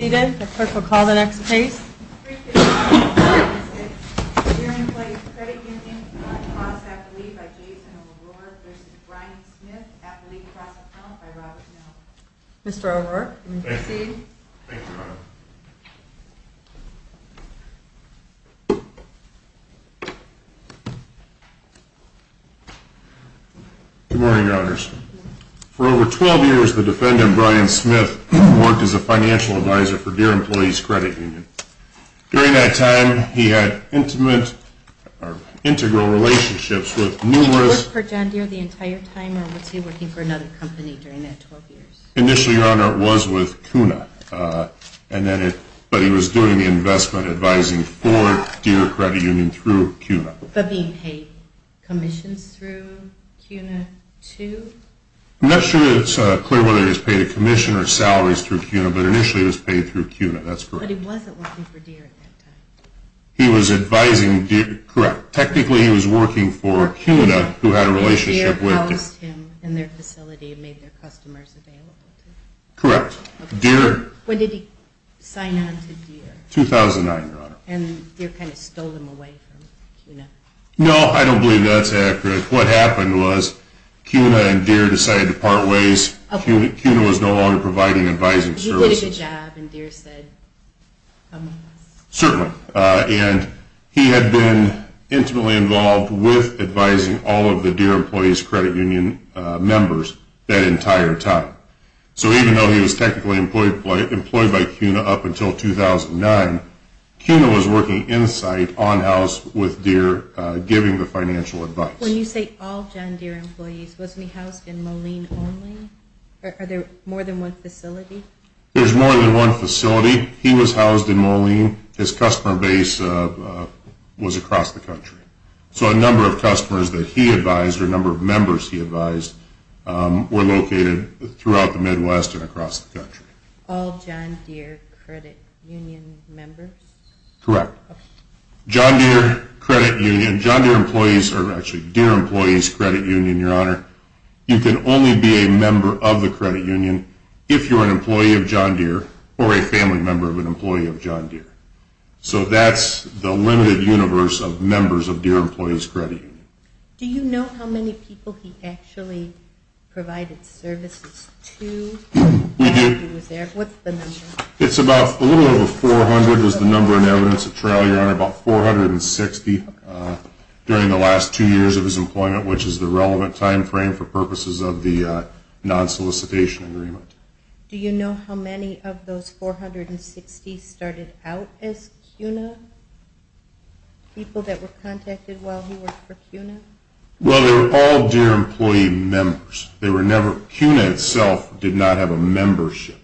Mr. O'Rourke, you may proceed. Thank you, Your Honor. Good morning, Your Honors. For over 12 years, the defendant, Brian Smith, worked as a financial advisor for Deere Employees Credit Union. During that time, he had intimate or integral relationships with numerous... Did he work for John Deere the entire time, or was he working for another company during that 12 years? Initially, Your Honor, it was with CUNA, but he was doing the investment advising for Deere Credit Union through CUNA. Did he pay commissions through CUNA, too? I'm not sure that it's clear whether he was paid a commission or salaries through CUNA, but initially, it was paid through CUNA. That's correct. But he wasn't working for Deere at that time. He was advising Deere. Correct. Technically, he was working for CUNA, who had a relationship with Deere. And Deere housed him in their facility and made their customers available to them. Correct. Deere... When did he sign on to Deere? 2009, Your Honor. And Deere kind of stole him away from CUNA. No, I don't believe that's accurate. What happened was CUNA and Deere decided to part ways. CUNA was no longer providing advising services. He did a good job, and Deere said, come with us. Certainly. And he had been intimately involved with advising all of the Deere Employees Credit Union members that entire time. So even though he was technically employed by CUNA up until 2009, CUNA was working in-site, on-house, with Deere, giving the financial advice. When you say all John Deere employees, wasn't he housed in Moline only? Are there more than one facility? There's more than one facility. He was housed in Moline. His customer base was across the country. So a number of customers that he advised, or a number of members he advised, were located throughout the Midwest and across the country. All John Deere Credit Union members? Correct. John Deere Credit Union, John Deere employees, or actually Deere Employees Credit Union, Your Honor, you can only be a member of the credit union if you're an employee of John Deere or a family member of an employee of John Deere. So that's the limited universe of members of Deere Employees Credit Union. Do you know how many people he actually provided services to while he was there? We do. What's the number? It's about a little over 400 was the number in evidence. At trial, Your Honor, about 460 during the last two years of his employment, which is the relevant time frame for purposes of the non-solicitation agreement. Do you know how many of those 460 started out as CUNA, people that were contacted while he worked for CUNA? Well, they were all Deere employee members. CUNA itself did not have a membership.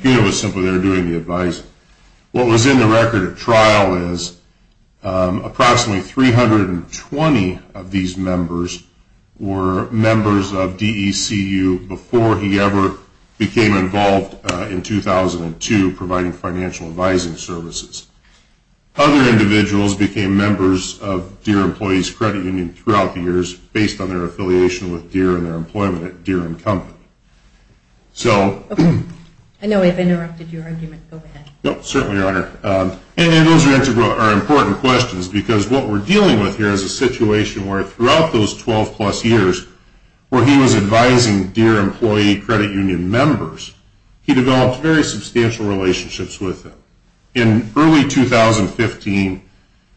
CUNA was simply there doing the advising. What was in the record at trial is approximately 320 of these members were members of DECU before he ever became involved in 2002 providing financial advising services. Other individuals became members of Deere Employees Credit Union throughout the years based on their affiliation with Deere and their employment at Deere and Company. Okay. I know I've interrupted your argument. Go ahead. No, certainly, Your Honor. And those are important questions because what we're dealing with here is a situation where throughout those 12-plus years where he was advising Deere Employee Credit Union members, he developed very substantial relationships with them. In early 2015,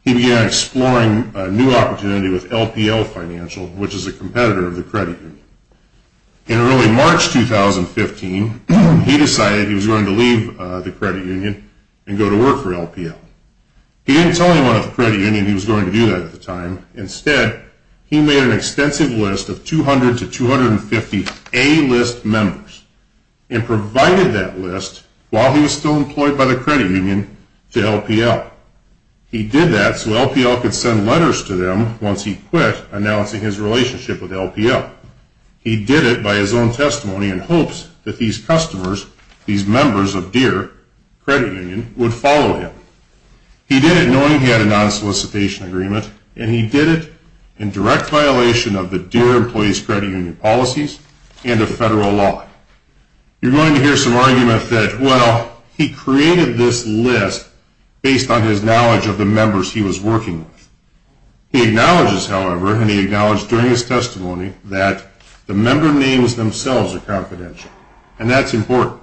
he began exploring a new opportunity with LPL Financial, which is a competitor of the credit union. In early March 2015, he decided he was going to leave the credit union and go to work for LPL. He didn't tell anyone at the credit union he was going to do that at the time. Instead, he made an extensive list of 200 to 250 A-list members and provided that list while he was still employed by the credit union to LPL. He did that so LPL could send letters to them once he quit announcing his relationship with LPL. He did it by his own testimony in hopes that these customers, these members of Deere Credit Union, would follow him. He did it knowing he had a non-solicitation agreement, and he did it in direct violation of the Deere Employees Credit Union policies and of federal law. You're going to hear some argument that, well, he created this list based on his knowledge of the members he was working with. He acknowledges, however, and he acknowledged during his testimony that the member names themselves are confidential, and that's important.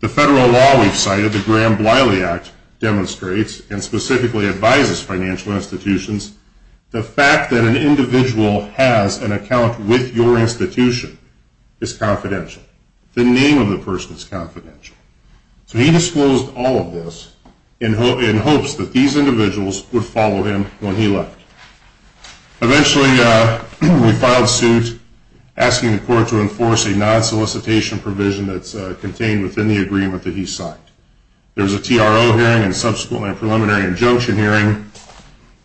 The federal law we've cited, the Graham-Bliley Act, demonstrates and specifically advises financial institutions the fact that an individual has an account with your institution is confidential. The name of the person is confidential. So he disclosed all of this in hopes that these individuals would follow him when he left. Eventually, we filed suit asking the court to enforce a non-solicitation provision that's contained within the agreement that he signed. There was a TRO hearing and subsequently a preliminary injunction hearing,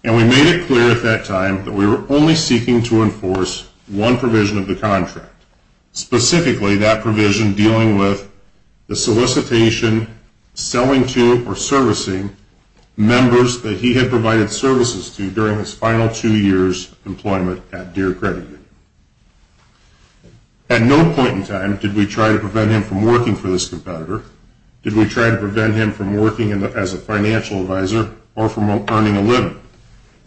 and we made it clear at that time that we were only seeking to enforce one provision of the contract, specifically that provision dealing with the solicitation selling to or servicing members that he had provided services to during his final two years' employment at Deere Credit Union. At no point in time did we try to prevent him from working for this competitor, did we try to prevent him from working as a financial advisor, or from earning a living.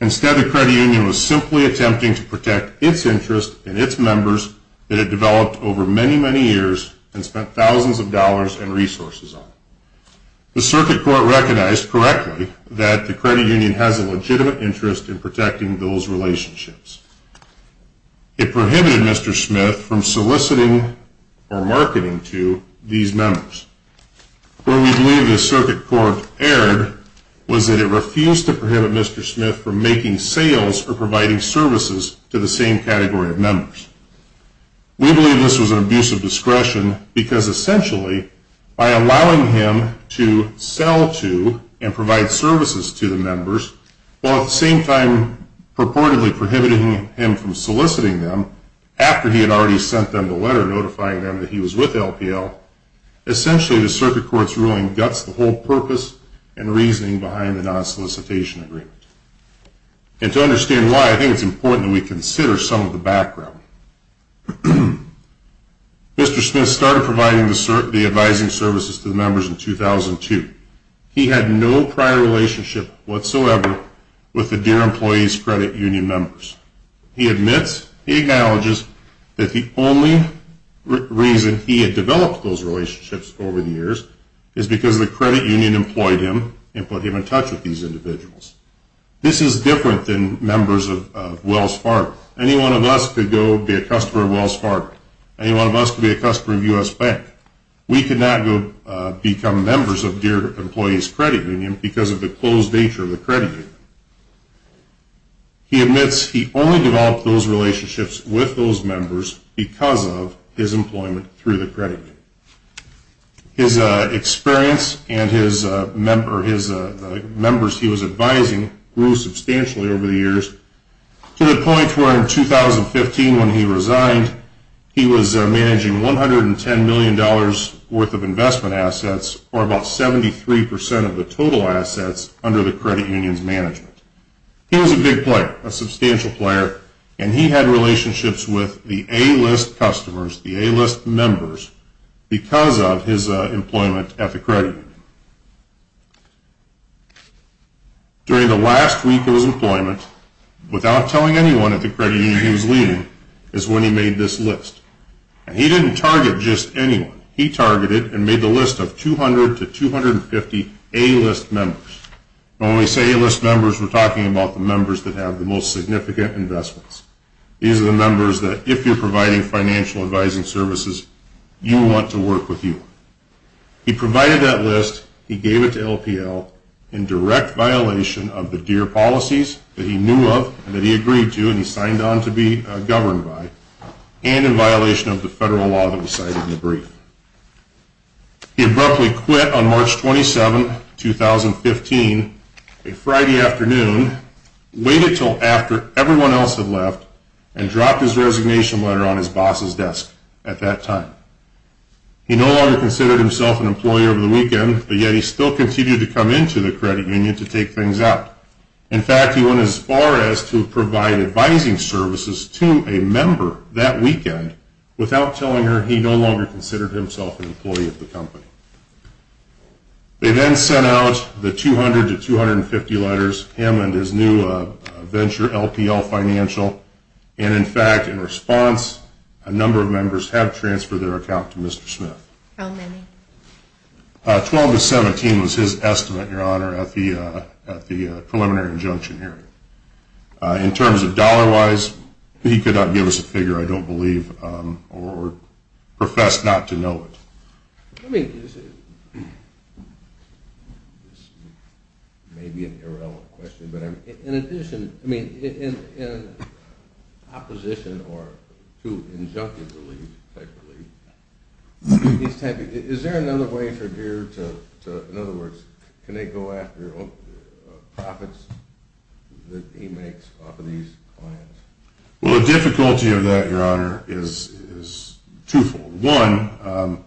Instead, the credit union was simply attempting to protect its interests and its members that it developed over many, many years and spent thousands of dollars and resources on. The circuit court recognized correctly that the credit union has a legitimate interest in protecting those relationships. It prohibited Mr. Smith from soliciting or marketing to these members. Where we believe the circuit court erred was that it refused to prohibit Mr. Smith from making sales or providing services to the same category of members. We believe this was an abuse of discretion because essentially, by allowing him to sell to and provide services to the members, while at the same time purportedly prohibiting him from soliciting them after he had already sent them the letter notifying them that he was with LPL, essentially the circuit court's ruling guts the whole purpose and reasoning behind the non-solicitation agreement. And to understand why, I think it's important that we consider some of the background. Mr. Smith started providing the advising services to the members in 2002. He had no prior relationship whatsoever with the Deere Employees Credit Union members. He admits, he acknowledges that the only reason he had developed those relationships over the years is because the credit union employed him and put him in touch with these individuals. This is different than members of Wells Fargo. Any one of us could go be a customer of Wells Fargo. Any one of us could be a customer of U.S. Bank. We could not become members of Deere Employees Credit Union because of the closed nature of the credit union. He admits he only developed those relationships with those members because of his employment through the credit union. His experience and his members he was advising grew substantially over the years to the point where in 2015 when he resigned, he was managing $110 million worth of investment assets or about 73% of the total assets under the credit union's management. He was a big player, a substantial player, and he had relationships with the A-list customers, the A-list members, because of his employment at the credit union. During the last week of his employment, without telling anyone at the credit union he was leading, is when he made this list. And he didn't target just anyone. He targeted and made the list of 200 to 250 A-list members. When we say A-list members, we're talking about the members that have the most significant investments. These are the members that if you're providing financial advising services, you want to work with you. He provided that list. He gave it to LPL in direct violation of the Deere policies that he knew of and that he agreed to and he signed on to be governed by, and in violation of the federal law that we cite in the brief. He abruptly quit on March 27, 2015, a Friday afternoon, waited until after everyone else had left, and dropped his resignation letter on his boss's desk at that time. He no longer considered himself an employer over the weekend, but yet he still continued to come into the credit union to take things out. In fact, he went as far as to provide advising services to a member that weekend without telling her he no longer considered himself an employee of the company. They then sent out the 200 to 250 letters, him and his new venture, LPL Financial, and in fact, in response, a number of members have transferred their account to Mr. Smith. How many? Twelve to 17 was his estimate, Your Honor, at the preliminary injunction hearing. In terms of dollar-wise, he could not give us a figure, I don't believe, or profess not to know it. I mean, this may be an irrelevant question, but in addition, I mean, in opposition to injunctive relief, is there another way for Deere to, in other words, can they go after profits that he makes off of these clients? Well, the difficulty of that, Your Honor, is twofold. One,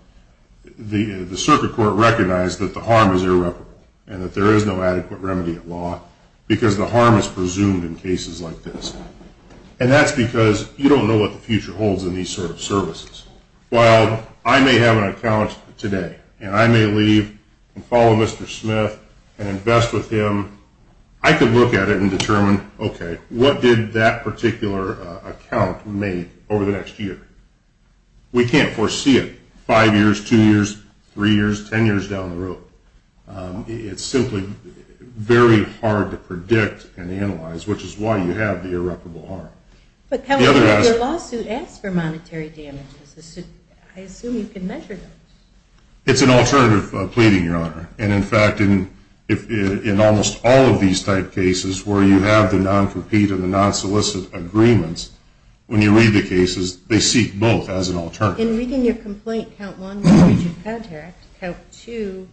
the circuit court recognized that the harm is irreparable and that there is no adequate remedy at law because the harm is presumed in cases like this, and that's because you don't know what the future holds in these sort of services. While I may have an account today and I may leave and follow Mr. Smith and invest with him, I could look at it and determine, okay, what did that particular account make over the next year? We can't foresee it five years, two years, three years, ten years down the road. It's simply very hard to predict and analyze, which is why you have the irreparable harm. But, Kelly, your lawsuit asks for monetary damages. I assume you can measure those. It's an alternative pleading, Your Honor, and, in fact, in almost all of these type cases where you have the non-compete and the non-solicit agreements, when you read the cases, they seek both as an alternative. In reading your complaint, Count 1, the breach of contract, Count 2,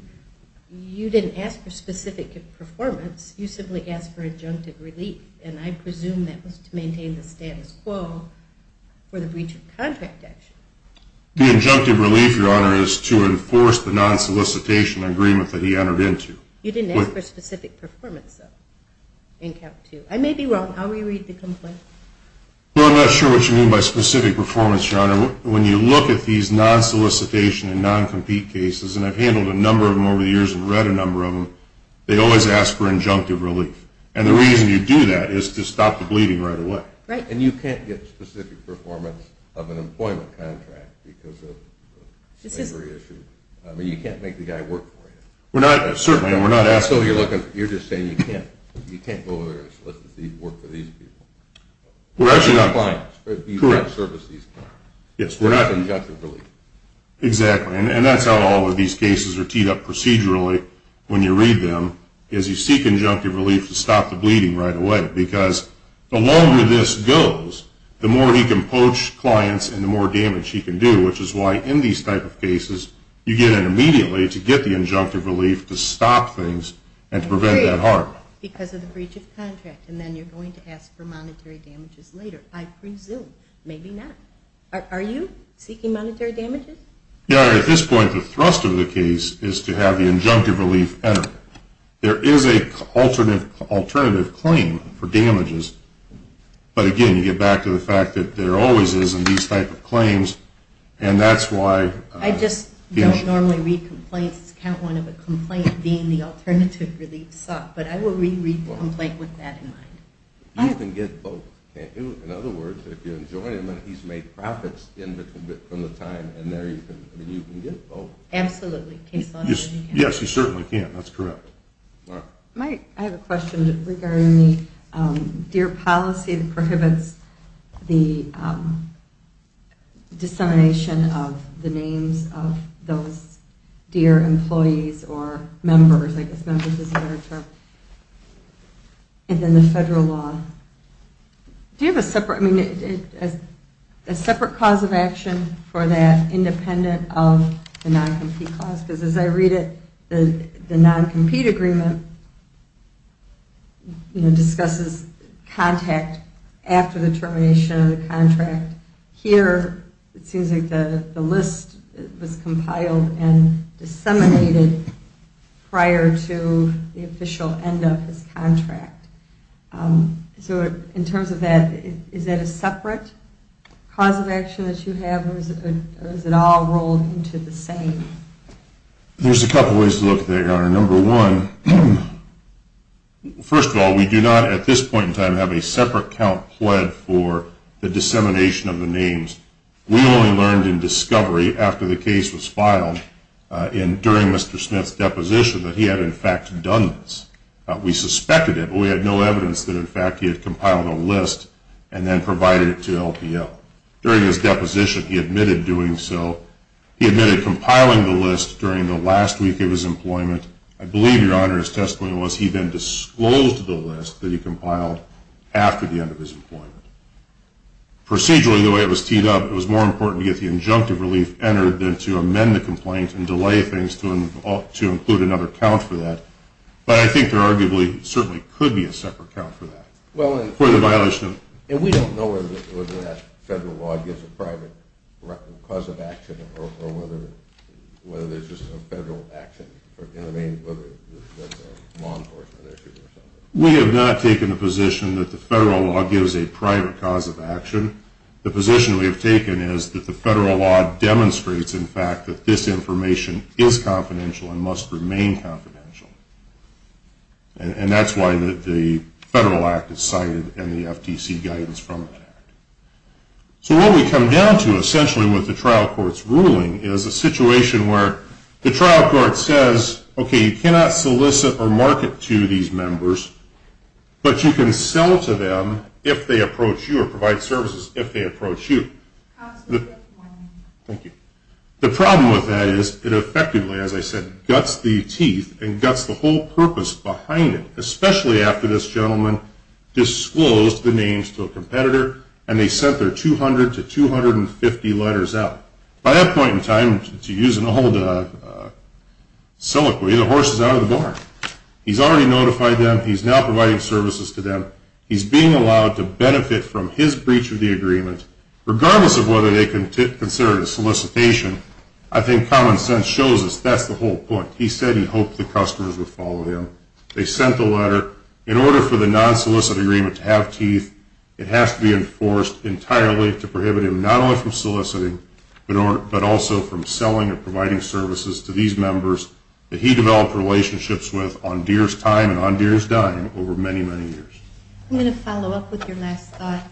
you didn't ask for specific performance. You simply asked for injunctive relief, and I presume that was to maintain the status quo for the breach of contract action. The injunctive relief, Your Honor, is to enforce the non-solicitation agreement that he entered into. You didn't ask for specific performance, though, in Count 2. I may be wrong. How will you read the complaint? Well, I'm not sure what you mean by specific performance, Your Honor. When you look at these non-solicitation and non-compete cases, and I've handled a number of them over the years and read a number of them, they always ask for injunctive relief, and the reason you do that is to stop the bleeding right away. Right. And you can't get specific performance of an employment contract because of a slavery issue. I mean, you can't make the guy work for you. Certainly, and we're not asking. So you're just saying you can't go over there and solicit these people to work for these people. We're actually not. You can't service these clients. Yes, we're not. That's injunctive relief. Exactly, and that's how all of these cases are teed up procedurally when you read them, is you seek injunctive relief to stop the bleeding right away, because the longer this goes, the more he can poach clients and the more damage he can do, which is why in these type of cases you get in immediately to get the injunctive relief to stop things and to prevent that heart. Because of the breach of contract, and then you're going to ask for monetary damages later. I presume. Maybe not. Are you seeking monetary damages? Yeah, at this point the thrust of the case is to have the injunctive relief enter. There is an alternative claim for damages, but, again, you get back to the fact that there always is in these type of claims, and that's why. I just don't normally read complaints. It's count one of a complaint being the alternative relief sought, but I will reread the complaint with that in mind. You can get both, can't you? In other words, if you enjoin him and he's made profits from the time, and there you can get both. Absolutely. Yes, you certainly can. That's correct. I have a question regarding the DEAR policy that prohibits the dissemination of the names of those DEAR employees or members, I guess members is a better term, and then the federal law. Do you have a separate cause of action for that independent of the non-compete clause? Because as I read it, the non-compete agreement discusses contact after the termination of the contract. Here it seems like the list was compiled and disseminated prior to the official end of his contract. So in terms of that, is that a separate cause of action that you have, or is it all rolled into the same? There's a couple ways to look at that, Your Honor. Number one, first of all, we do not at this point in time have a separate count pled for the dissemination of the names. We only learned in discovery after the case was filed and during Mr. Smith's deposition that he had, in fact, done this. We suspected it, but we had no evidence that, in fact, he had compiled a list and then provided it to LPL. During his deposition, he admitted doing so. He admitted compiling the list during the last week of his employment. I believe, Your Honor, his testimony was he then disclosed the list that he compiled after the end of his employment. Procedurally, the way it was teed up, it was more important to get the injunctive relief entered than to amend the complaint and delay things to include another count for that. But I think there arguably certainly could be a separate count for that, for the violation of And we don't know whether that federal law gives a private cause of action or whether there's just a federal action in the name of law enforcement issues or something. We have not taken a position that the federal law gives a private cause of action. The position we have taken is that the federal law demonstrates, in fact, that this information is confidential and must remain confidential. And that's why the federal act is cited and the FTC guidance from it. So what we come down to, essentially, with the trial court's ruling, is a situation where the trial court says, okay, you cannot solicit or market to these members, but you can sell to them if they approach you or provide services if they approach you. Thank you. The problem with that is it effectively, as I said, guts the teeth and guts the whole purpose behind it, especially after this gentleman disclosed the names to a competitor and they sent their 200 to 250 letters out. By that point in time, to use an old siloquy, the horse is out of the barn. He's already notified them. He's now providing services to them. He's being allowed to benefit from his breach of the agreement, regardless of whether they consider it a solicitation. I think common sense shows us that's the whole point. He said he hoped the customers would follow him. They sent the letter. In order for the non-solicited agreement to have teeth, it has to be enforced entirely to prohibit him not only from soliciting, but also from selling or providing services to these members that he developed relationships with on dearest time and on dearest dime over many, many years. I'm going to follow up with your last thought.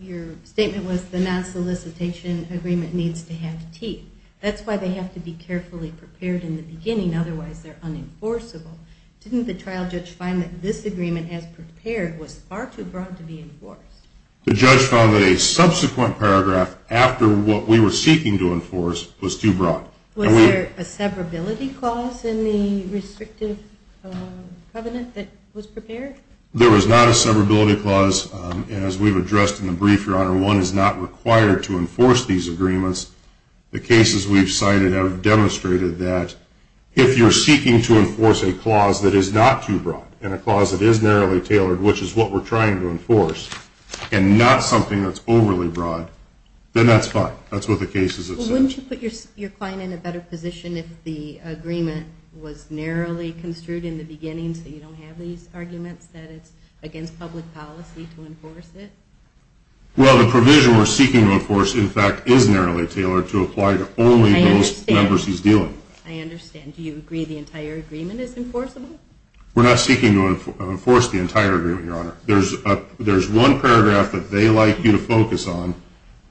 Your statement was the non-solicitation agreement needs to have teeth. That's why they have to be carefully prepared in the beginning. Otherwise, they're unenforceable. Didn't the trial judge find that this agreement as prepared was far too broad to be enforced? The judge found that a subsequent paragraph after what we were seeking to enforce was too broad. Was there a severability clause in the restrictive covenant that was prepared? There was not a severability clause. As we've addressed in the brief, Your Honor, one is not required to enforce these agreements. The cases we've cited have demonstrated that if you're seeking to enforce a clause that is not too broad and a clause that is narrowly tailored, which is what we're trying to enforce, and not something that's overly broad, then that's fine. That's what the cases have said. Wouldn't you put your client in a better position if the agreement was narrowly construed in the beginning so you don't have these arguments that it's against public policy to enforce it? Well, the provision we're seeking to enforce, in fact, is narrowly tailored to apply to only those members he's dealing with. I understand. Do you agree the entire agreement is enforceable? We're not seeking to enforce the entire agreement, Your Honor. There's one paragraph that they like you to focus on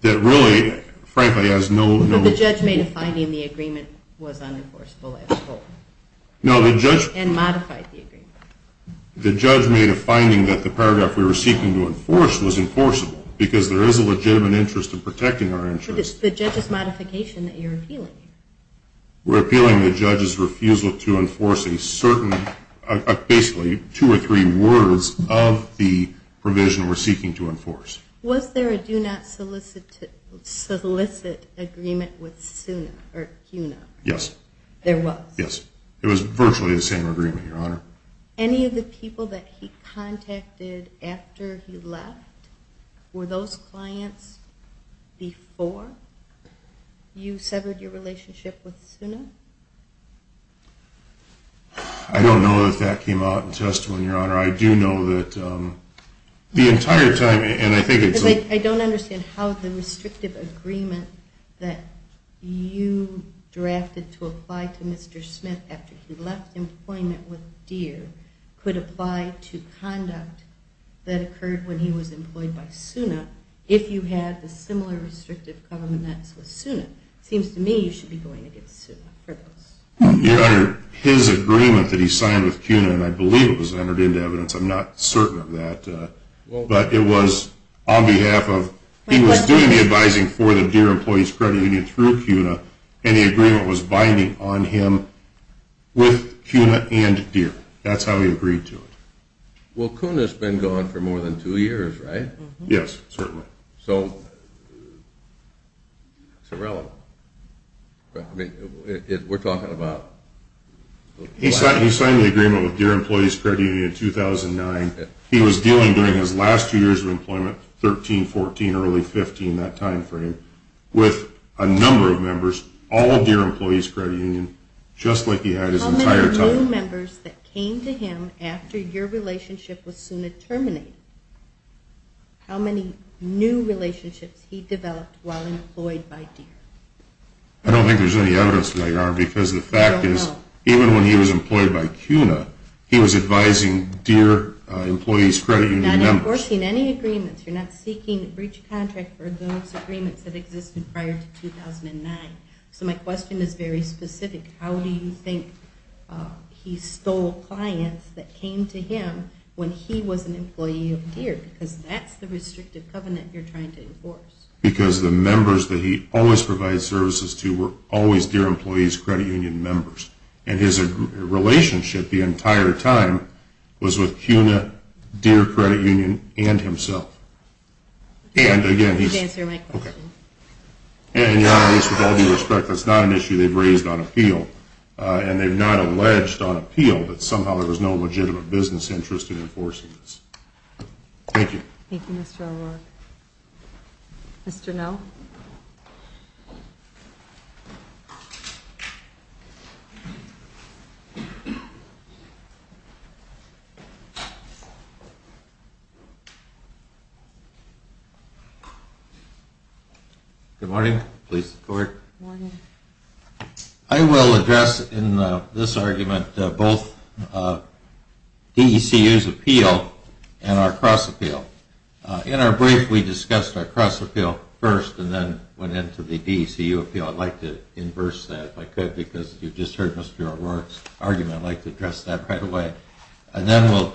that really, frankly, has no ---- But the judge made a finding the agreement was unenforceable as a whole. No, the judge ---- And modified the agreement. The judge made a finding that the paragraph we were seeking to enforce was enforceable because there is a legitimate interest in protecting our interests. But it's the judge's modification that you're appealing. We're appealing the judge's refusal to enforce a certain ---- basically, two or three words of the provision we're seeking to enforce. Was there a do not solicit agreement with SUNA or CUNA? Yes. There was? Yes. It was virtually the same agreement, Your Honor. Any of the people that he contacted after he left, were those clients before you severed your relationship? I don't know that that came out in testimony, Your Honor. I do know that the entire time, and I think it's ---- I don't understand how the restrictive agreement that you drafted to apply to Mr. Smith after he left employment with Deere could apply to conduct that occurred when he was employed by SUNA if you had a similar restrictive covenant with SUNA. It seems to me you should be going against SUNA. Your Honor, his agreement that he signed with CUNA, and I believe it was entered into evidence. I'm not certain of that. But it was on behalf of ---- He was doing the advising for the Deere Employees Credit Union through CUNA, and the agreement was binding on him with CUNA and Deere. That's how he agreed to it. Well, CUNA's been gone for more than two years, right? Yes, certainly. So it's irrelevant. We're talking about ---- He signed the agreement with Deere Employees Credit Union in 2009. He was dealing during his last two years of employment, 13, 14, early 15, that time frame, with a number of members, all of Deere Employees Credit Union, just like he had his entire time. How many new members that came to him after your relationship with SUNA terminated? How many new relationships he developed while employed by Deere? I don't think there's any evidence there, Your Honor, because the fact is, even when he was employed by CUNA, he was advising Deere Employees Credit Union members. You're not enforcing any agreements. You're not seeking a breach of contract for those agreements that existed prior to 2009. So my question is very specific. How do you think he stole clients that came to him when he was an employee of Deere? Because that's the restrictive covenant you're trying to enforce. Because the members that he always provided services to were always Deere Employees Credit Union members. And his relationship the entire time was with CUNA, Deere Credit Union, and himself. You can answer my question. And, Your Honor, with all due respect, that's not an issue they've raised on appeal. And they've not alleged on appeal that somehow there was no legitimate business interest in enforcing this. Thank you. Thank you, Mr. O'Rourke. Mr. Nell? Good morning. I will address in this argument both DECU's appeal and our cross-appeal. In our brief, we discussed our cross-appeal first and then went into the DECU appeal. I'd like to inverse that, if I could, because you just heard Mr. O'Rourke's argument. I'd like to address that right away. And then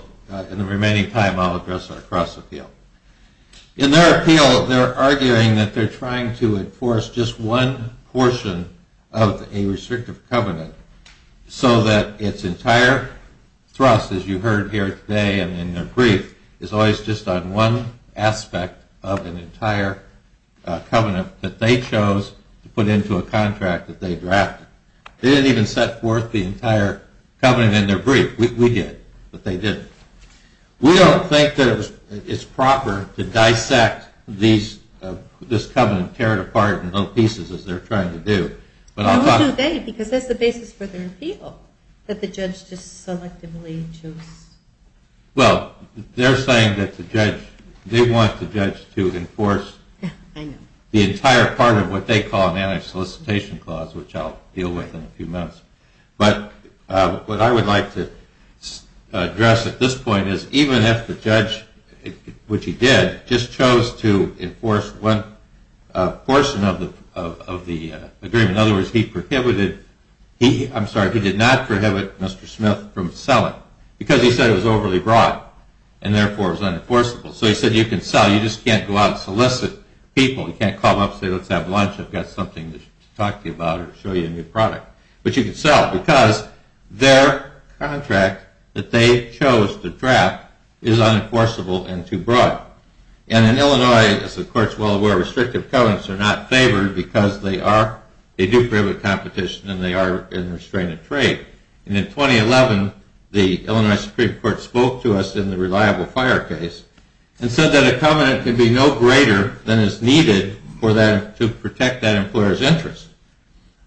in the remaining time, I'll address our cross-appeal. In their appeal, they're arguing that they're trying to enforce just one portion of a restrictive covenant so that its entire thrust, as you heard here today and in their brief, is always just on one aspect of an entire covenant that they chose to put into a contract that they drafted. They didn't even set forth the entire covenant in their brief. We did, but they didn't. We don't think that it's proper to dissect this covenant, tear it apart in little pieces, as they're trying to do. Why would they? Because that's the basis for their appeal, that the judge just selectively chose. Well, they're saying that they want the judge to enforce the entire part of what they call an anti-solicitation clause, which I'll deal with in a few minutes. But what I would like to address at this point is even if the judge, which he did, just chose to enforce one portion of the agreement. In other words, he prohibited – I'm sorry, he did not prohibit Mr. Smith from selling because he said it was overly broad and therefore was unenforceable. So he said, you can sell, you just can't go out and solicit people. You can't call them up and say, let's have lunch. I've got something to talk to you about or show you a new product. But you can sell because their contract that they chose to draft is unenforceable and too broad. And in Illinois, as the court is well aware, restrictive covenants are not favored because they are, they do prohibit competition and they are in restrained trade. And in 2011, the Illinois Supreme Court spoke to us in the reliable fire case and said that a covenant can be no greater than is needed to protect that employer's interest.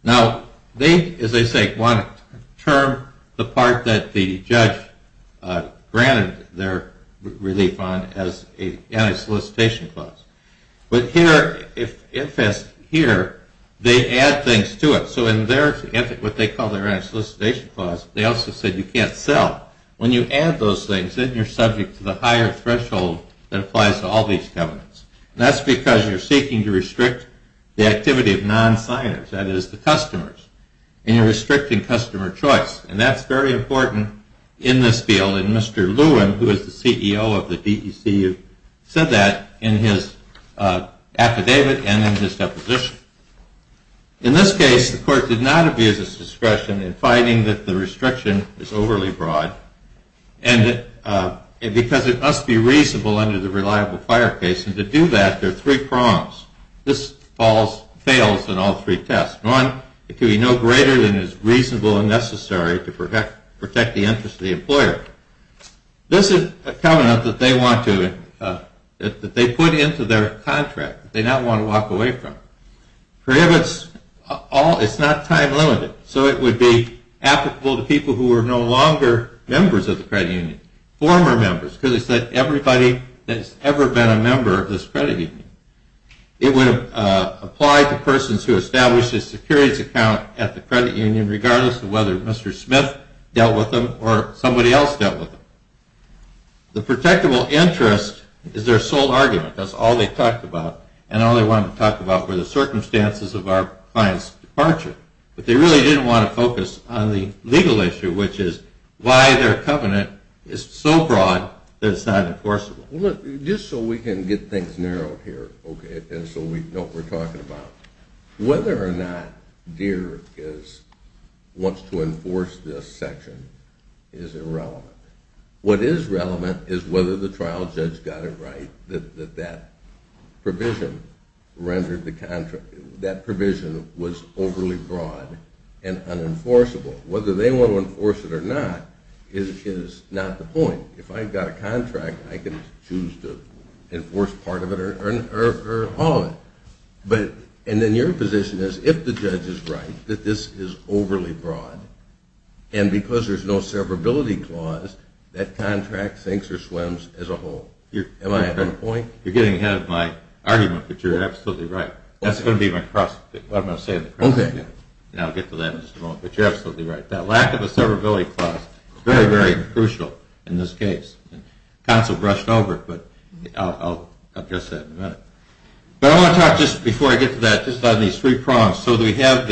Now, they, as I say, want to term the part that the judge granted their relief on as an anti-solicitation clause. But here, they add things to it. So in their, what they call their anti-solicitation clause, they also said you can't sell. When you add those things, then you're subject to the higher threshold that applies to all these covenants. And that's because you're seeking to restrict the activity of non-signers, that is, the customers. And you're restricting customer choice. And that's very important in this field. And Mr. Lewin, who is the CEO of the DECU, said that in his affidavit and in his deposition. In this case, the court did not abuse its discretion in finding that the restriction is overly broad. And because it must be reasonable under the reliable fire case. And to do that, there are three prongs. This falls, fails in all three tests. One, it can be no greater than is reasonable and necessary to protect the interest of the employer. This is a covenant that they want to, that they put into their contract, that they don't want to walk away from. Prohibits all, it's not time limited. So it would be applicable to people who are no longer members of the credit union. Former members, because it's like everybody that has ever been a member of this credit union. It would apply to persons who established a securities account at the credit union, regardless of whether Mr. Smith dealt with them or somebody else dealt with them. The protectable interest is their sole argument, that's all they talked about. And all they wanted to talk about were the circumstances of our client's departure. But they really didn't want to focus on the legal issue, which is why their covenant is so broad that it's not enforceable. Just so we can get things narrowed here, okay, and so we know what we're talking about. Whether or not Deere wants to enforce this section is irrelevant. What is relevant is whether the trial judge got it right that that provision rendered the contract, that provision was overly broad and unenforceable. Whether they want to enforce it or not is not the point. If I've got a contract, I can choose to enforce part of it or all of it. And then your position is if the judge is right that this is overly broad, and because there's no severability clause, that contract sinks or swims as a whole. Am I at that point? You're getting ahead of my argument, but you're absolutely right. That's going to be my cross, what am I saying? Okay. I'll get to that in just a moment, but you're absolutely right. That lack of a severability clause is very, very crucial in this case. The counsel brushed over it, but I'll address that in a minute. But I want to talk just before I get to that, just on these three prongs. So we have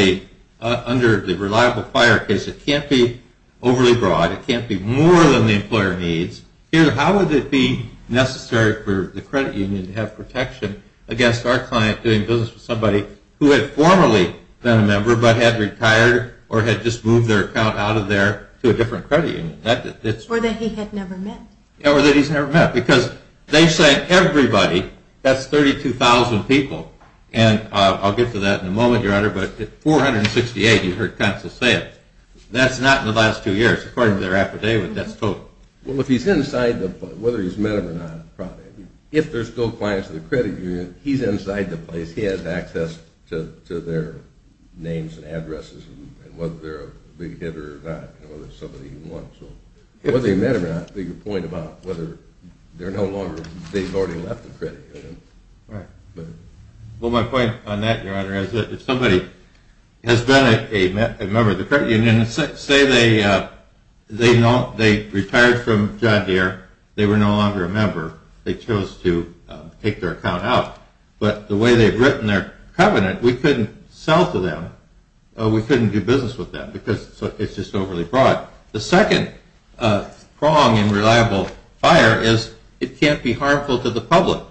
under the reliable prior case, it can't be overly broad, it can't be more than the employer needs. Here, how would it be necessary for the credit union to have protection against our client doing business with somebody who had formerly been a member but had retired or had just moved their account out of there to a different credit union? Or that he had never met. Or that he's never met, because they say everybody, that's 32,000 people, and I'll get to that in a moment, Your Honor, but 468, you heard counsel say it. That's not in the last two years. According to their affidavit, that's total. Well, if he's inside, whether he's met him or not, probably. If they're still clients of the credit union, he's inside the place, he has access to their names and addresses and whether they're a big hitter or not, and whether it's somebody he wants. Whether he met him or not is a bigger point about whether they're no longer, they've already left the credit union. Well, my point on that, Your Honor, is that if somebody has been a member of the credit union and say they retired from John Deere, they were no longer a member, they chose to take their account out, but the way they've written their covenant, we couldn't sell to them or we couldn't do business with them because it's just overly broad. The second prong in reliable buyer is it can't be harmful to the public,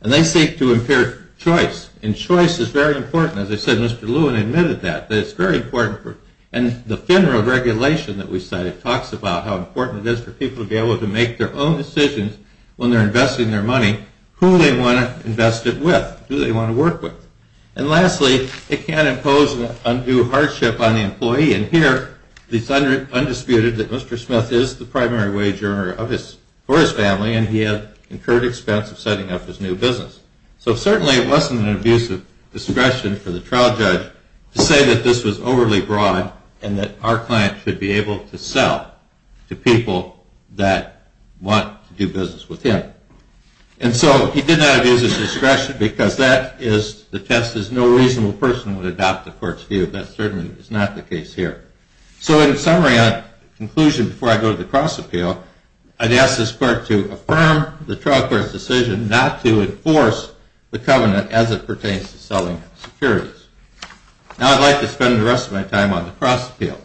and they seek to impair choice, and choice is very important. As I said, Mr. Lewin admitted that. And the FINRA regulation that we cited talks about how important it is for people to be able to make their own decisions when they're investing their money, who they want to invest it with, who they want to work with. And lastly, it can't impose undue hardship on the employee, and here it's undisputed that Mr. Smith is the primary wager for his family and he had incurred expense of setting up his new business. So certainly it wasn't an abuse of discretion for the trial judge to say that this was overly broad and that our client should be able to sell to people that want to do business with him. And so he did not abuse his discretion because the test is no reasonable person would adopt the court's view. That certainly is not the case here. So in summary, in conclusion, before I go to the cross-appeal, I'd ask this court to affirm the trial court's decision not to enforce the covenant as it pertains to selling securities. Now I'd like to spend the rest of my time on the cross-appeal.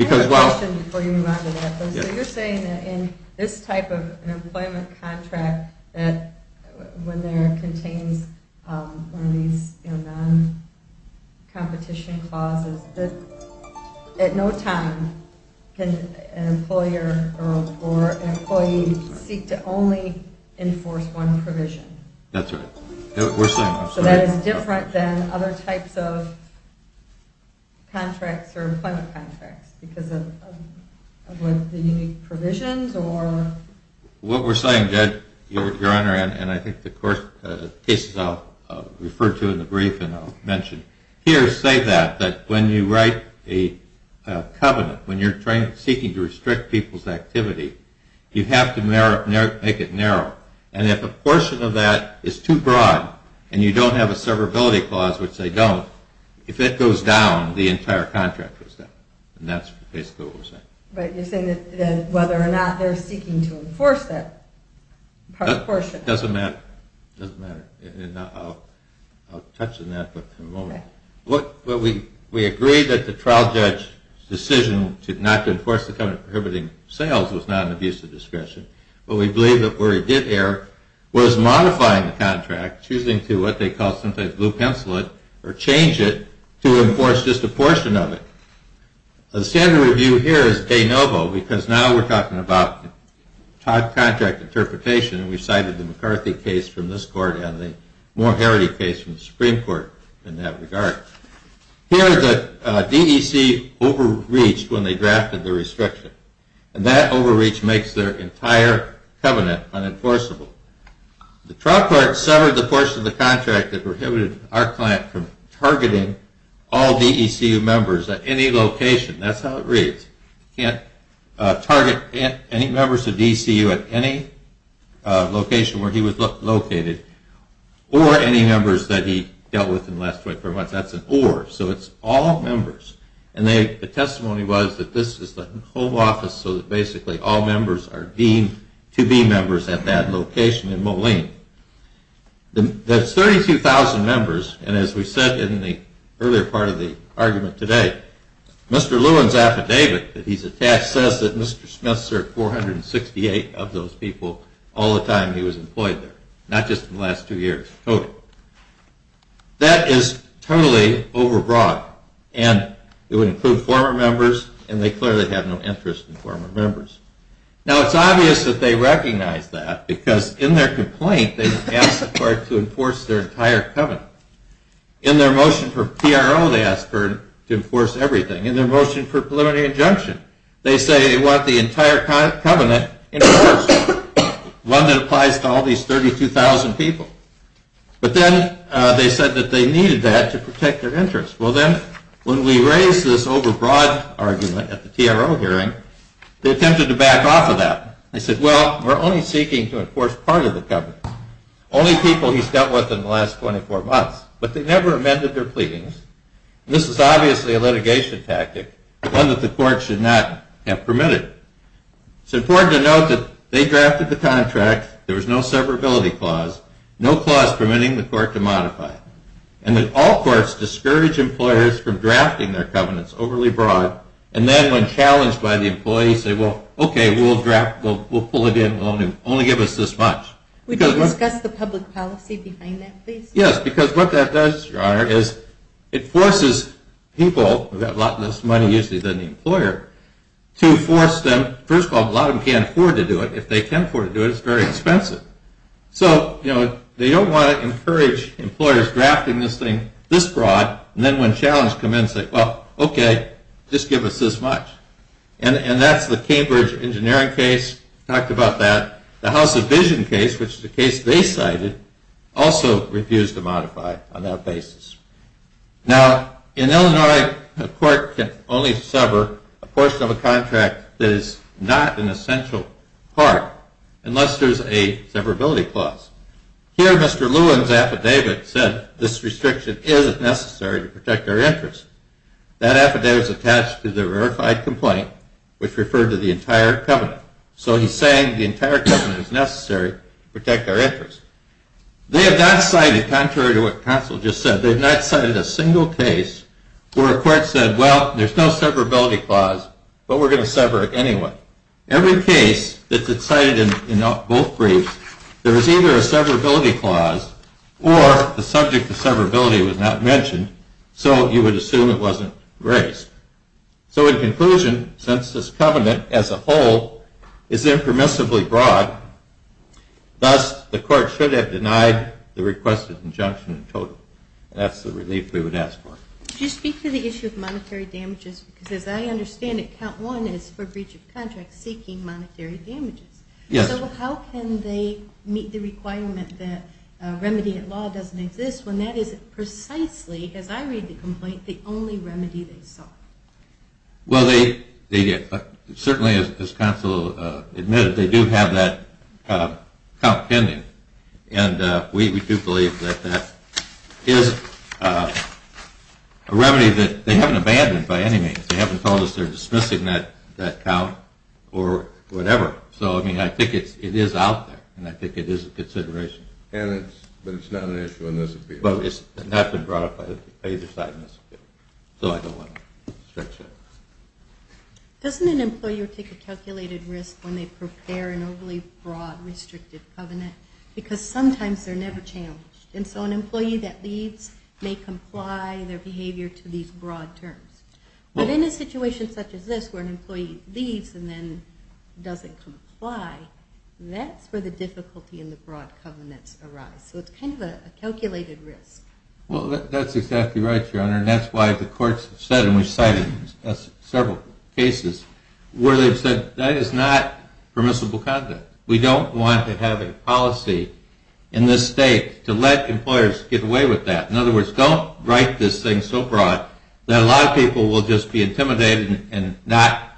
I have a question before you move on to that. So you're saying that in this type of employment contract, when there contains one of these non-competition clauses, that at no time can an employer or an employee seek to only enforce one provision? That's right. So that is different than other types of contracts or employment contracts because of the unique provisions? What we're saying, Judge, Your Honor, and I think the cases I'll refer to in the brief and I'll mention here say that when you write a covenant, when you're seeking to restrict people's activity, you have to make it narrow. And if a portion of that is too broad and you don't have a severability clause, which they don't, if it goes down, the entire contract goes down. And that's basically what we're saying. But you're saying that whether or not they're seeking to enforce that portion. It doesn't matter. I'll touch on that in a moment. We agree that the trial judge's decision not to enforce the covenant prohibiting sales was not an abuse of discretion. But we believe that where it did err was modifying the contract, choosing to what they call sometimes blue pencil it or change it to enforce just a portion of it. The standard review here is de novo because now we're talking about contract interpretation. We've cited the McCarthy case from this court and the Moore-Harrity case from the Supreme Court in that regard. Here the DEC overreached when they drafted the restriction. And that overreach makes their entire covenant unenforceable. The trial court severed the portion of the contract that prohibited our client from targeting all DECU members at any location. That's how it reads. You can't target any members of DECU at any location where he was located or any members that he dealt with in the last 24 months. That's an or. So it's all members. And the testimony was that this is the home office so that basically all members are deemed to be members at that location in Moline. That's 32,000 members, and as we said in the earlier part of the argument today, Mr. Lewin's affidavit that he's attached says that Mr. Smith served 468 of those people all the time he was employed there, not just in the last two years total. That is totally overbroad. And it would include former members, and they clearly have no interest in former members. Now it's obvious that they recognize that because in their complaint they ask the court to enforce their entire covenant. In their motion for PRO they ask the court to enforce everything. In their motion for preliminary injunction they say they want the entire covenant enforced. One that applies to all these 32,000 people. But then they said that they needed that to protect their interests. Well, then when we raise this overbroad argument at the PRO hearing, they attempted to back off of that. They said, well, we're only seeking to enforce part of the covenant. Only people he's dealt with in the last 24 months. But they never amended their pleadings. This is obviously a litigation tactic, one that the court should not have permitted. It's important to note that they drafted the contract. There was no severability clause. No clause permitting the court to modify it. And that all courts discourage employers from drafting their covenants overly broad, and then when challenged by the employee say, well, okay, we'll pull it in and only give us this much. Would you discuss the public policy behind that, please? Yes, because what that does, Your Honor, is it forces people who have a lot less money usually than the employer to force them, first of all, a lot of them can't afford to do it. If they can afford to do it, it's very expensive. So, you know, they don't want to encourage employers drafting this thing this broad, and then when challenged come in and say, well, okay, just give us this much. And that's the Cambridge engineering case. We talked about that. The House of Vision case, which is a case they cited, also refused to modify on that basis. Now, in Illinois, a court can only sever a portion of a contract that is not an essential part, unless there's a severability clause. Here, Mr. Lewin's affidavit said this restriction isn't necessary to protect our interests. That affidavit is attached to the verified complaint, which referred to the entire covenant. So he's saying the entire covenant is necessary to protect our interests. They have not cited, contrary to what counsel just said, they've not cited a single case where a court said, well, there's no severability clause, but we're going to sever it anyway. Every case that's cited in both briefs, there is either a severability clause or the subject of severability was not mentioned, so you would assume it wasn't raised. So in conclusion, since this covenant as a whole is impermissibly broad, thus the court should have denied the requested injunction in total. That's the relief we would ask for. Could you speak to the issue of monetary damages? Because as I understand it, count one is for breach of contract seeking monetary damages. Yes. So how can they meet the requirement that a remedy at law doesn't exist when that is precisely, as I read the complaint, the only remedy they saw? Well, they did. Certainly, as counsel admitted, they do have that count pending, and we do believe that that is a remedy that they haven't abandoned by any means. They haven't told us they're dismissing that count or whatever. So I mean, I think it is out there, and I think it is a consideration. But it's not an issue in this appeal? Well, it's not been brought up by either side in this appeal, so I don't want to stretch it. Doesn't an employer take a calculated risk when they prepare an overly broad, restricted covenant? Because sometimes they're never challenged, and so an employee that leaves may comply their behavior to these broad terms. But in a situation such as this where an employee leaves and then doesn't comply, that's where the difficulty in the broad covenants arise. So it's kind of a calculated risk. Well, that's exactly right, Your Honor, and that's why the courts have said, and we've cited several cases where they've said that is not permissible conduct. We don't want to have a policy in this state to let employers get away with that. In other words, don't write this thing so broad that a lot of people will just be intimidated and not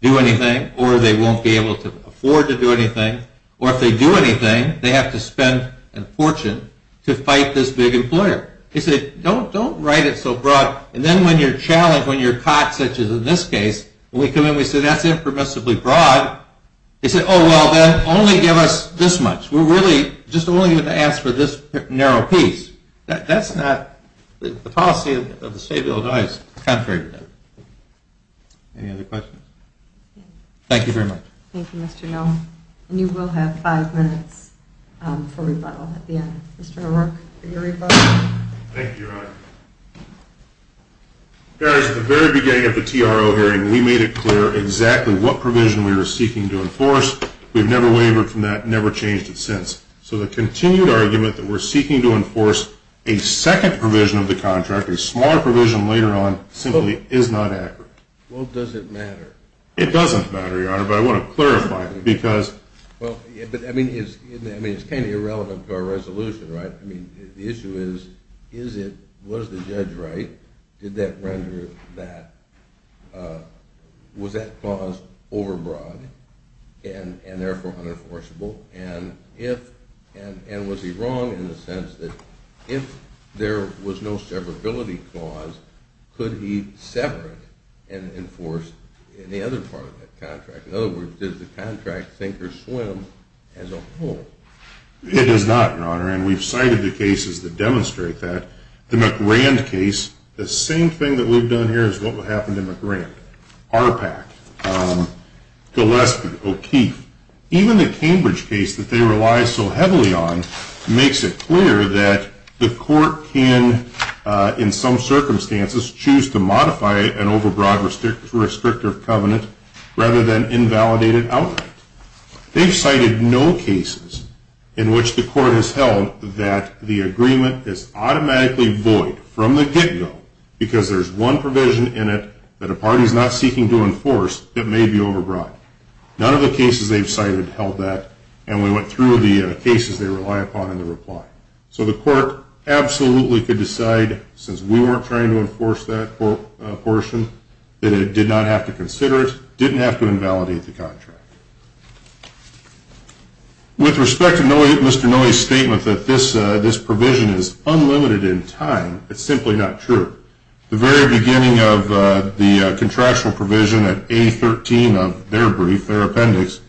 do anything, or they won't be able to afford to do anything, or if they do anything, they have to spend a fortune to fight this big employer. They say, don't write it so broad. And then when you're challenged, when you're caught, such as in this case, when we come in, we say, that's impermissibly broad. They say, oh, well, then only give us this much. We're really just only going to ask for this narrow piece. That's not the policy of the State of Illinois. It's contrary to that. Any other questions? Thank you very much. Thank you, Mr. Noll. And you will have five minutes for rebuttal at the end. Mr. O'Rourke, for your rebuttal. Thank you, Your Honor. At the very beginning of the TRO hearing, we made it clear exactly what provision we were seeking to enforce. We've never wavered from that, never changed it since. So the continued argument that we're seeking to enforce a second provision of the contract, a smaller provision later on, simply is not accurate. Well, does it matter? It doesn't matter, Your Honor, but I want to clarify it because – Well, I mean, it's kind of irrelevant to our resolution, right? I mean, the issue is, is it – was the judge right? Did that render that – was that clause overbroad and therefore unenforceable? And if – and was he wrong in the sense that if there was no severability clause, could he sever it and enforce the other part of that contract? In other words, does the contract sink or swim as a whole? It does not, Your Honor, and we've cited the cases that demonstrate that. The McRand case, the same thing that we've done here is what will happen to McRand. ARPAC, Gillespie, O'Keefe, even the Cambridge case that they rely so heavily on that the court can, in some circumstances, choose to modify an overbroad restrictor of covenant rather than invalidate it outright. They've cited no cases in which the court has held that the agreement is automatically void from the get-go because there's one provision in it that a party is not seeking to enforce that may be overbroad. None of the cases they've cited held that, and we went through the cases they rely upon in the reply. So the court absolutely could decide, since we weren't trying to enforce that portion, that it did not have to consider it, didn't have to invalidate the contract. With respect to Mr. Noe's statement that this provision is unlimited in time, it's simply not true. The very beginning of the contractual provision at A13 of their brief, their appendix,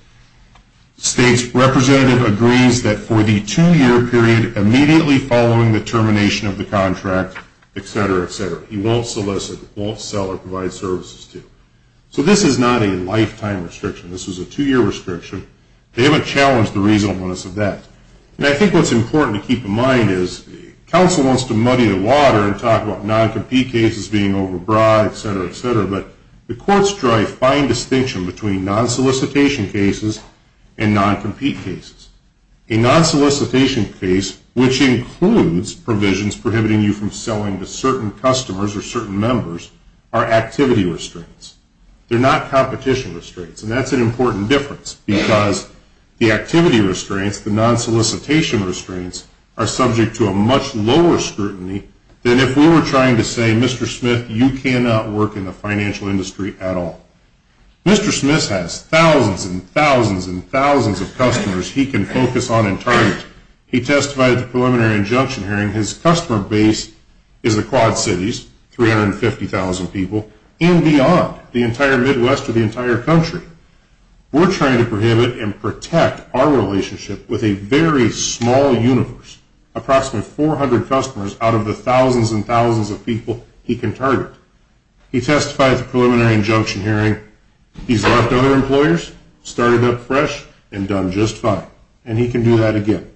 states representative agrees that for the two-year period immediately following the termination of the contract, etc., etc., he won't solicit, won't sell or provide services to. So this is not a lifetime restriction. This is a two-year restriction. They haven't challenged the reasonableness of that. And I think what's important to keep in mind is the council wants to muddy the water and talk about non-compete cases being overbroad, etc., etc., but the courts drive fine distinction between non-solicitation cases and non-compete cases. A non-solicitation case, which includes provisions prohibiting you from selling to certain customers or certain members, are activity restraints. They're not competition restraints, and that's an important difference because the activity restraints, the non-solicitation restraints, are subject to a much lower scrutiny than if we were trying to say, Mr. Smith, you cannot work in the financial industry at all. Mr. Smith has thousands and thousands and thousands of customers he can focus on and target. He testified at the preliminary injunction hearing. His customer base is the Quad Cities, 350,000 people, and beyond, the entire Midwest or the entire country. We're trying to prohibit and protect our relationship with a very small universe, approximately 400 customers out of the thousands and thousands of people he can target. He testified at the preliminary injunction hearing. He's left other employers, started up fresh, and done just fine, and he can do that again.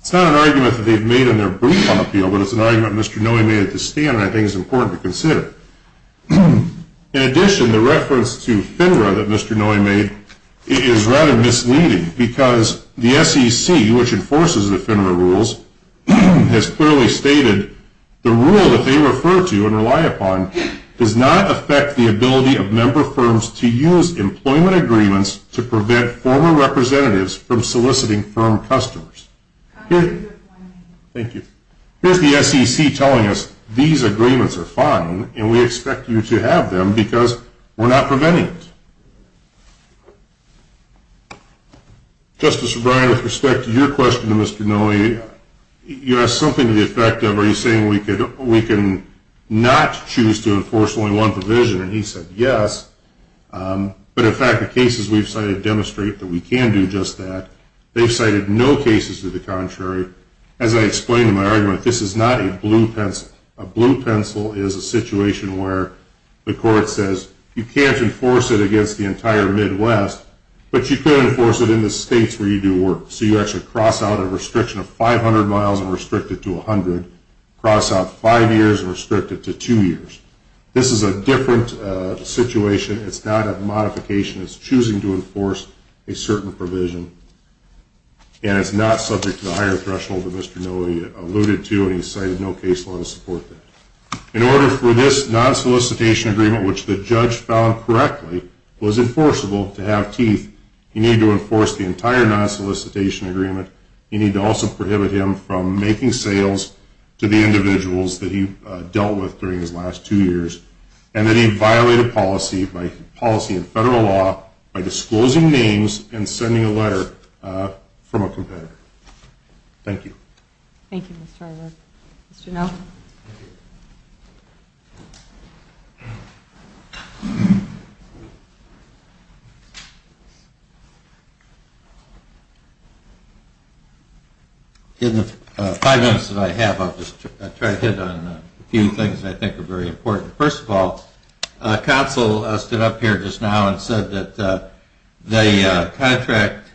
It's not an argument that they've made in their brief on appeal, but it's an argument Mr. Noy made at the stand, and I think it's important to consider. In addition, the reference to FINRA that Mr. Noy made is rather misleading because the SEC, which enforces the FINRA rules, has clearly stated the rule that they refer to and rely upon does not affect the ability of member firms to use employment agreements to prevent former representatives from soliciting firm customers. Here's the SEC telling us these agreements are fine, and we expect you to have them because we're not preventing it. Justice O'Brien, with respect to your question to Mr. Noy, you have something to the effect of are you saying we can not choose to enforce only one provision, and he said yes, but in fact the cases we've cited demonstrate that we can do just that. They've cited no cases to the contrary. As I explained in my argument, this is not a blue pencil. Yes, a blue pencil is a situation where the court says you can't enforce it against the entire Midwest, but you can enforce it in the states where you do work. So you actually cross out a restriction of 500 miles and restrict it to 100, cross out five years and restrict it to two years. This is a different situation. It's not a modification. It's choosing to enforce a certain provision, and it's not subject to the higher threshold that Mr. Noy alluded to, and he cited no case law to support that. In order for this non-solicitation agreement, which the judge found correctly, was enforceable to have teeth, you need to enforce the entire non-solicitation agreement. You need to also prohibit him from making sales to the individuals that he dealt with during his last two years, and that he violated policy and federal law by disclosing names and sending a letter from a competitor. Thank you. Thank you, Mr. Eilert. Mr. Noe? Thank you. In the five minutes that I have, I'll just try to hit on a few things that I think are very important. First of all, Council stood up here just now and said that the contract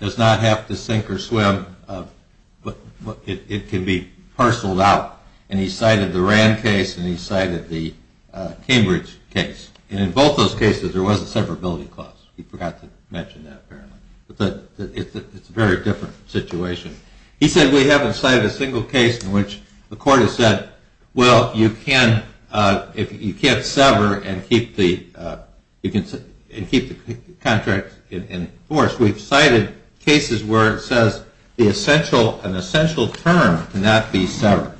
does not have to sink or swim, but it can be parceled out, and he cited the Rand case and he cited the Cambridge case, and in both those cases there was a severability clause. We forgot to mention that apparently, but it's a very different situation. He said we haven't cited a single case in which the court has said, well, you can't sever and keep the contract enforced. Of course, we've cited cases where it says an essential term cannot be severed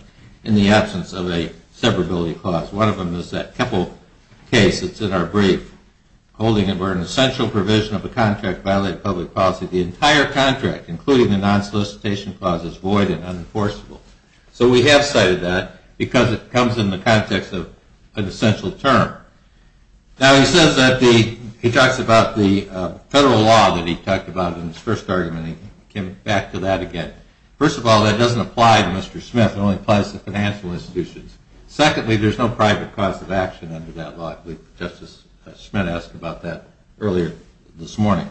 in the absence of a severability clause. One of them is that Keppel case that's in our brief, holding it where an essential provision of a contract violated public policy, the entire contract, including the non-solicitation clause, is void and unenforceable. So we have cited that because it comes in the context of an essential term. Now he says that the, he talks about the federal law that he talked about in his first argument, and he came back to that again. First of all, that doesn't apply to Mr. Smith, it only applies to financial institutions. Secondly, there's no private cause of action under that law. Justice Smith asked about that earlier this morning.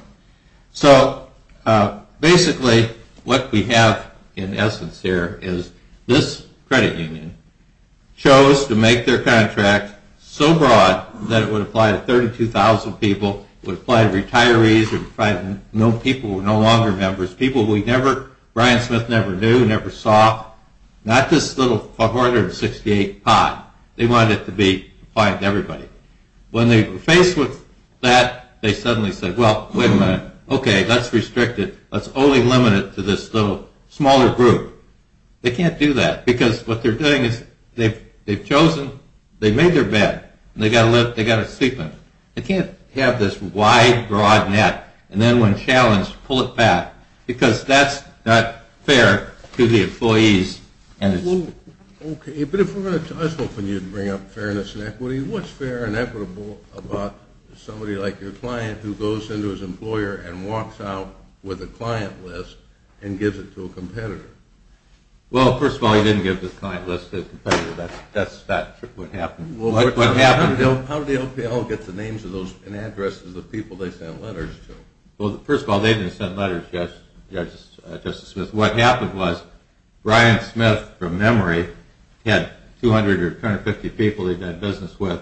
So basically what we have in essence here is this credit union chose to make their contract so broad that it would apply to 32,000 people, it would apply to retirees, it would apply to people who are no longer members, people we never, Brian Smith never knew, never saw. Not this little 468 pot. They wanted it to be applied to everybody. When they were faced with that, they suddenly said, well, wait a minute, okay, let's restrict it, let's only limit it to this little smaller group. They can't do that, because what they're doing is they've chosen, they've made their bed, and they've got to sleep in it. They can't have this wide, broad net, and then when challenged, pull it back, because that's not fair to the employees. Okay, but I was hoping you'd bring up fairness and equity. What's fair and equitable about somebody like your client who goes into his employer and walks out with a client list and gives it to a competitor? Well, first of all, he didn't give his client list to a competitor. That's not what happened. How did the OPL get the names and addresses of the people they sent letters to? Well, first of all, they didn't send letters, Justice Smith. What happened was Brian Smith, from memory, had 200 or 250 people he'd done business with.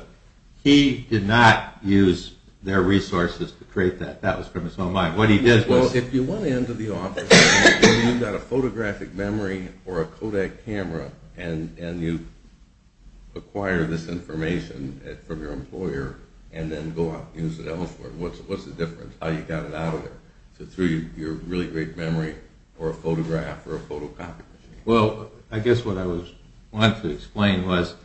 He did not use their resources to create that. That was from his own mind. What he did was... Well, if you went into the office and you've got a photographic memory or a Kodak camera and you acquire this information from your employer and then go out and use it elsewhere, what's the difference, how you got it out of there? Is it through your really great memory or a photograph or a photocopy? Well, I guess what I wanted to explain was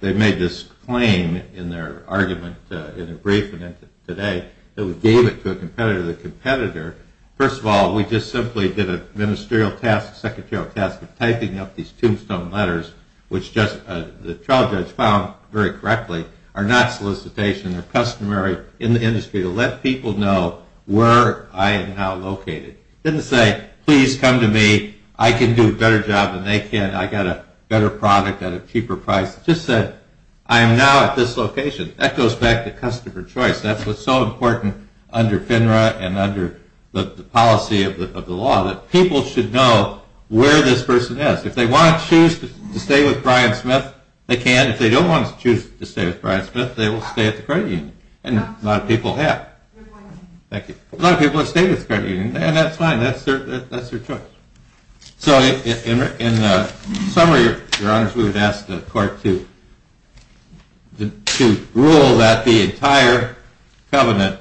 they made this claim in their argument in a briefing today that we gave it to a competitor. The competitor, first of all, we just simply did a ministerial task, a secretarial task of typing up these tombstone letters, which the trial judge found very correctly, are not solicitation. They're customary in the industry to let people know where I am now located. He didn't say, please come to me. I can do a better job than they can. I got a better product at a cheaper price. He just said, I am now at this location. That goes back to customer choice. That's what's so important under FINRA and under the policy of the law, that people should know where this person is. If they want to choose to stay with Brian Smith, they can. And if they don't want to choose to stay with Brian Smith, they will stay at the credit union. And a lot of people have. Thank you. A lot of people have stayed at the credit union, and that's fine. That's their choice. So in summary, Your Honors, we would ask the court to rule that the entire covenant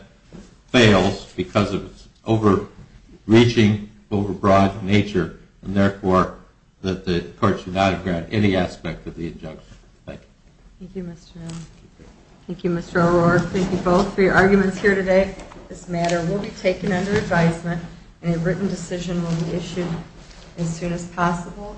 fails because of its overreaching, overbroad nature, and therefore that the court should not grant any aspect of the injunction. Thank you. Thank you, Mr. Miller. Thank you, Mr. O'Rourke. Thank you both for your arguments here today. This matter will be taken under advisement, and a written decision will be issued as soon as possible.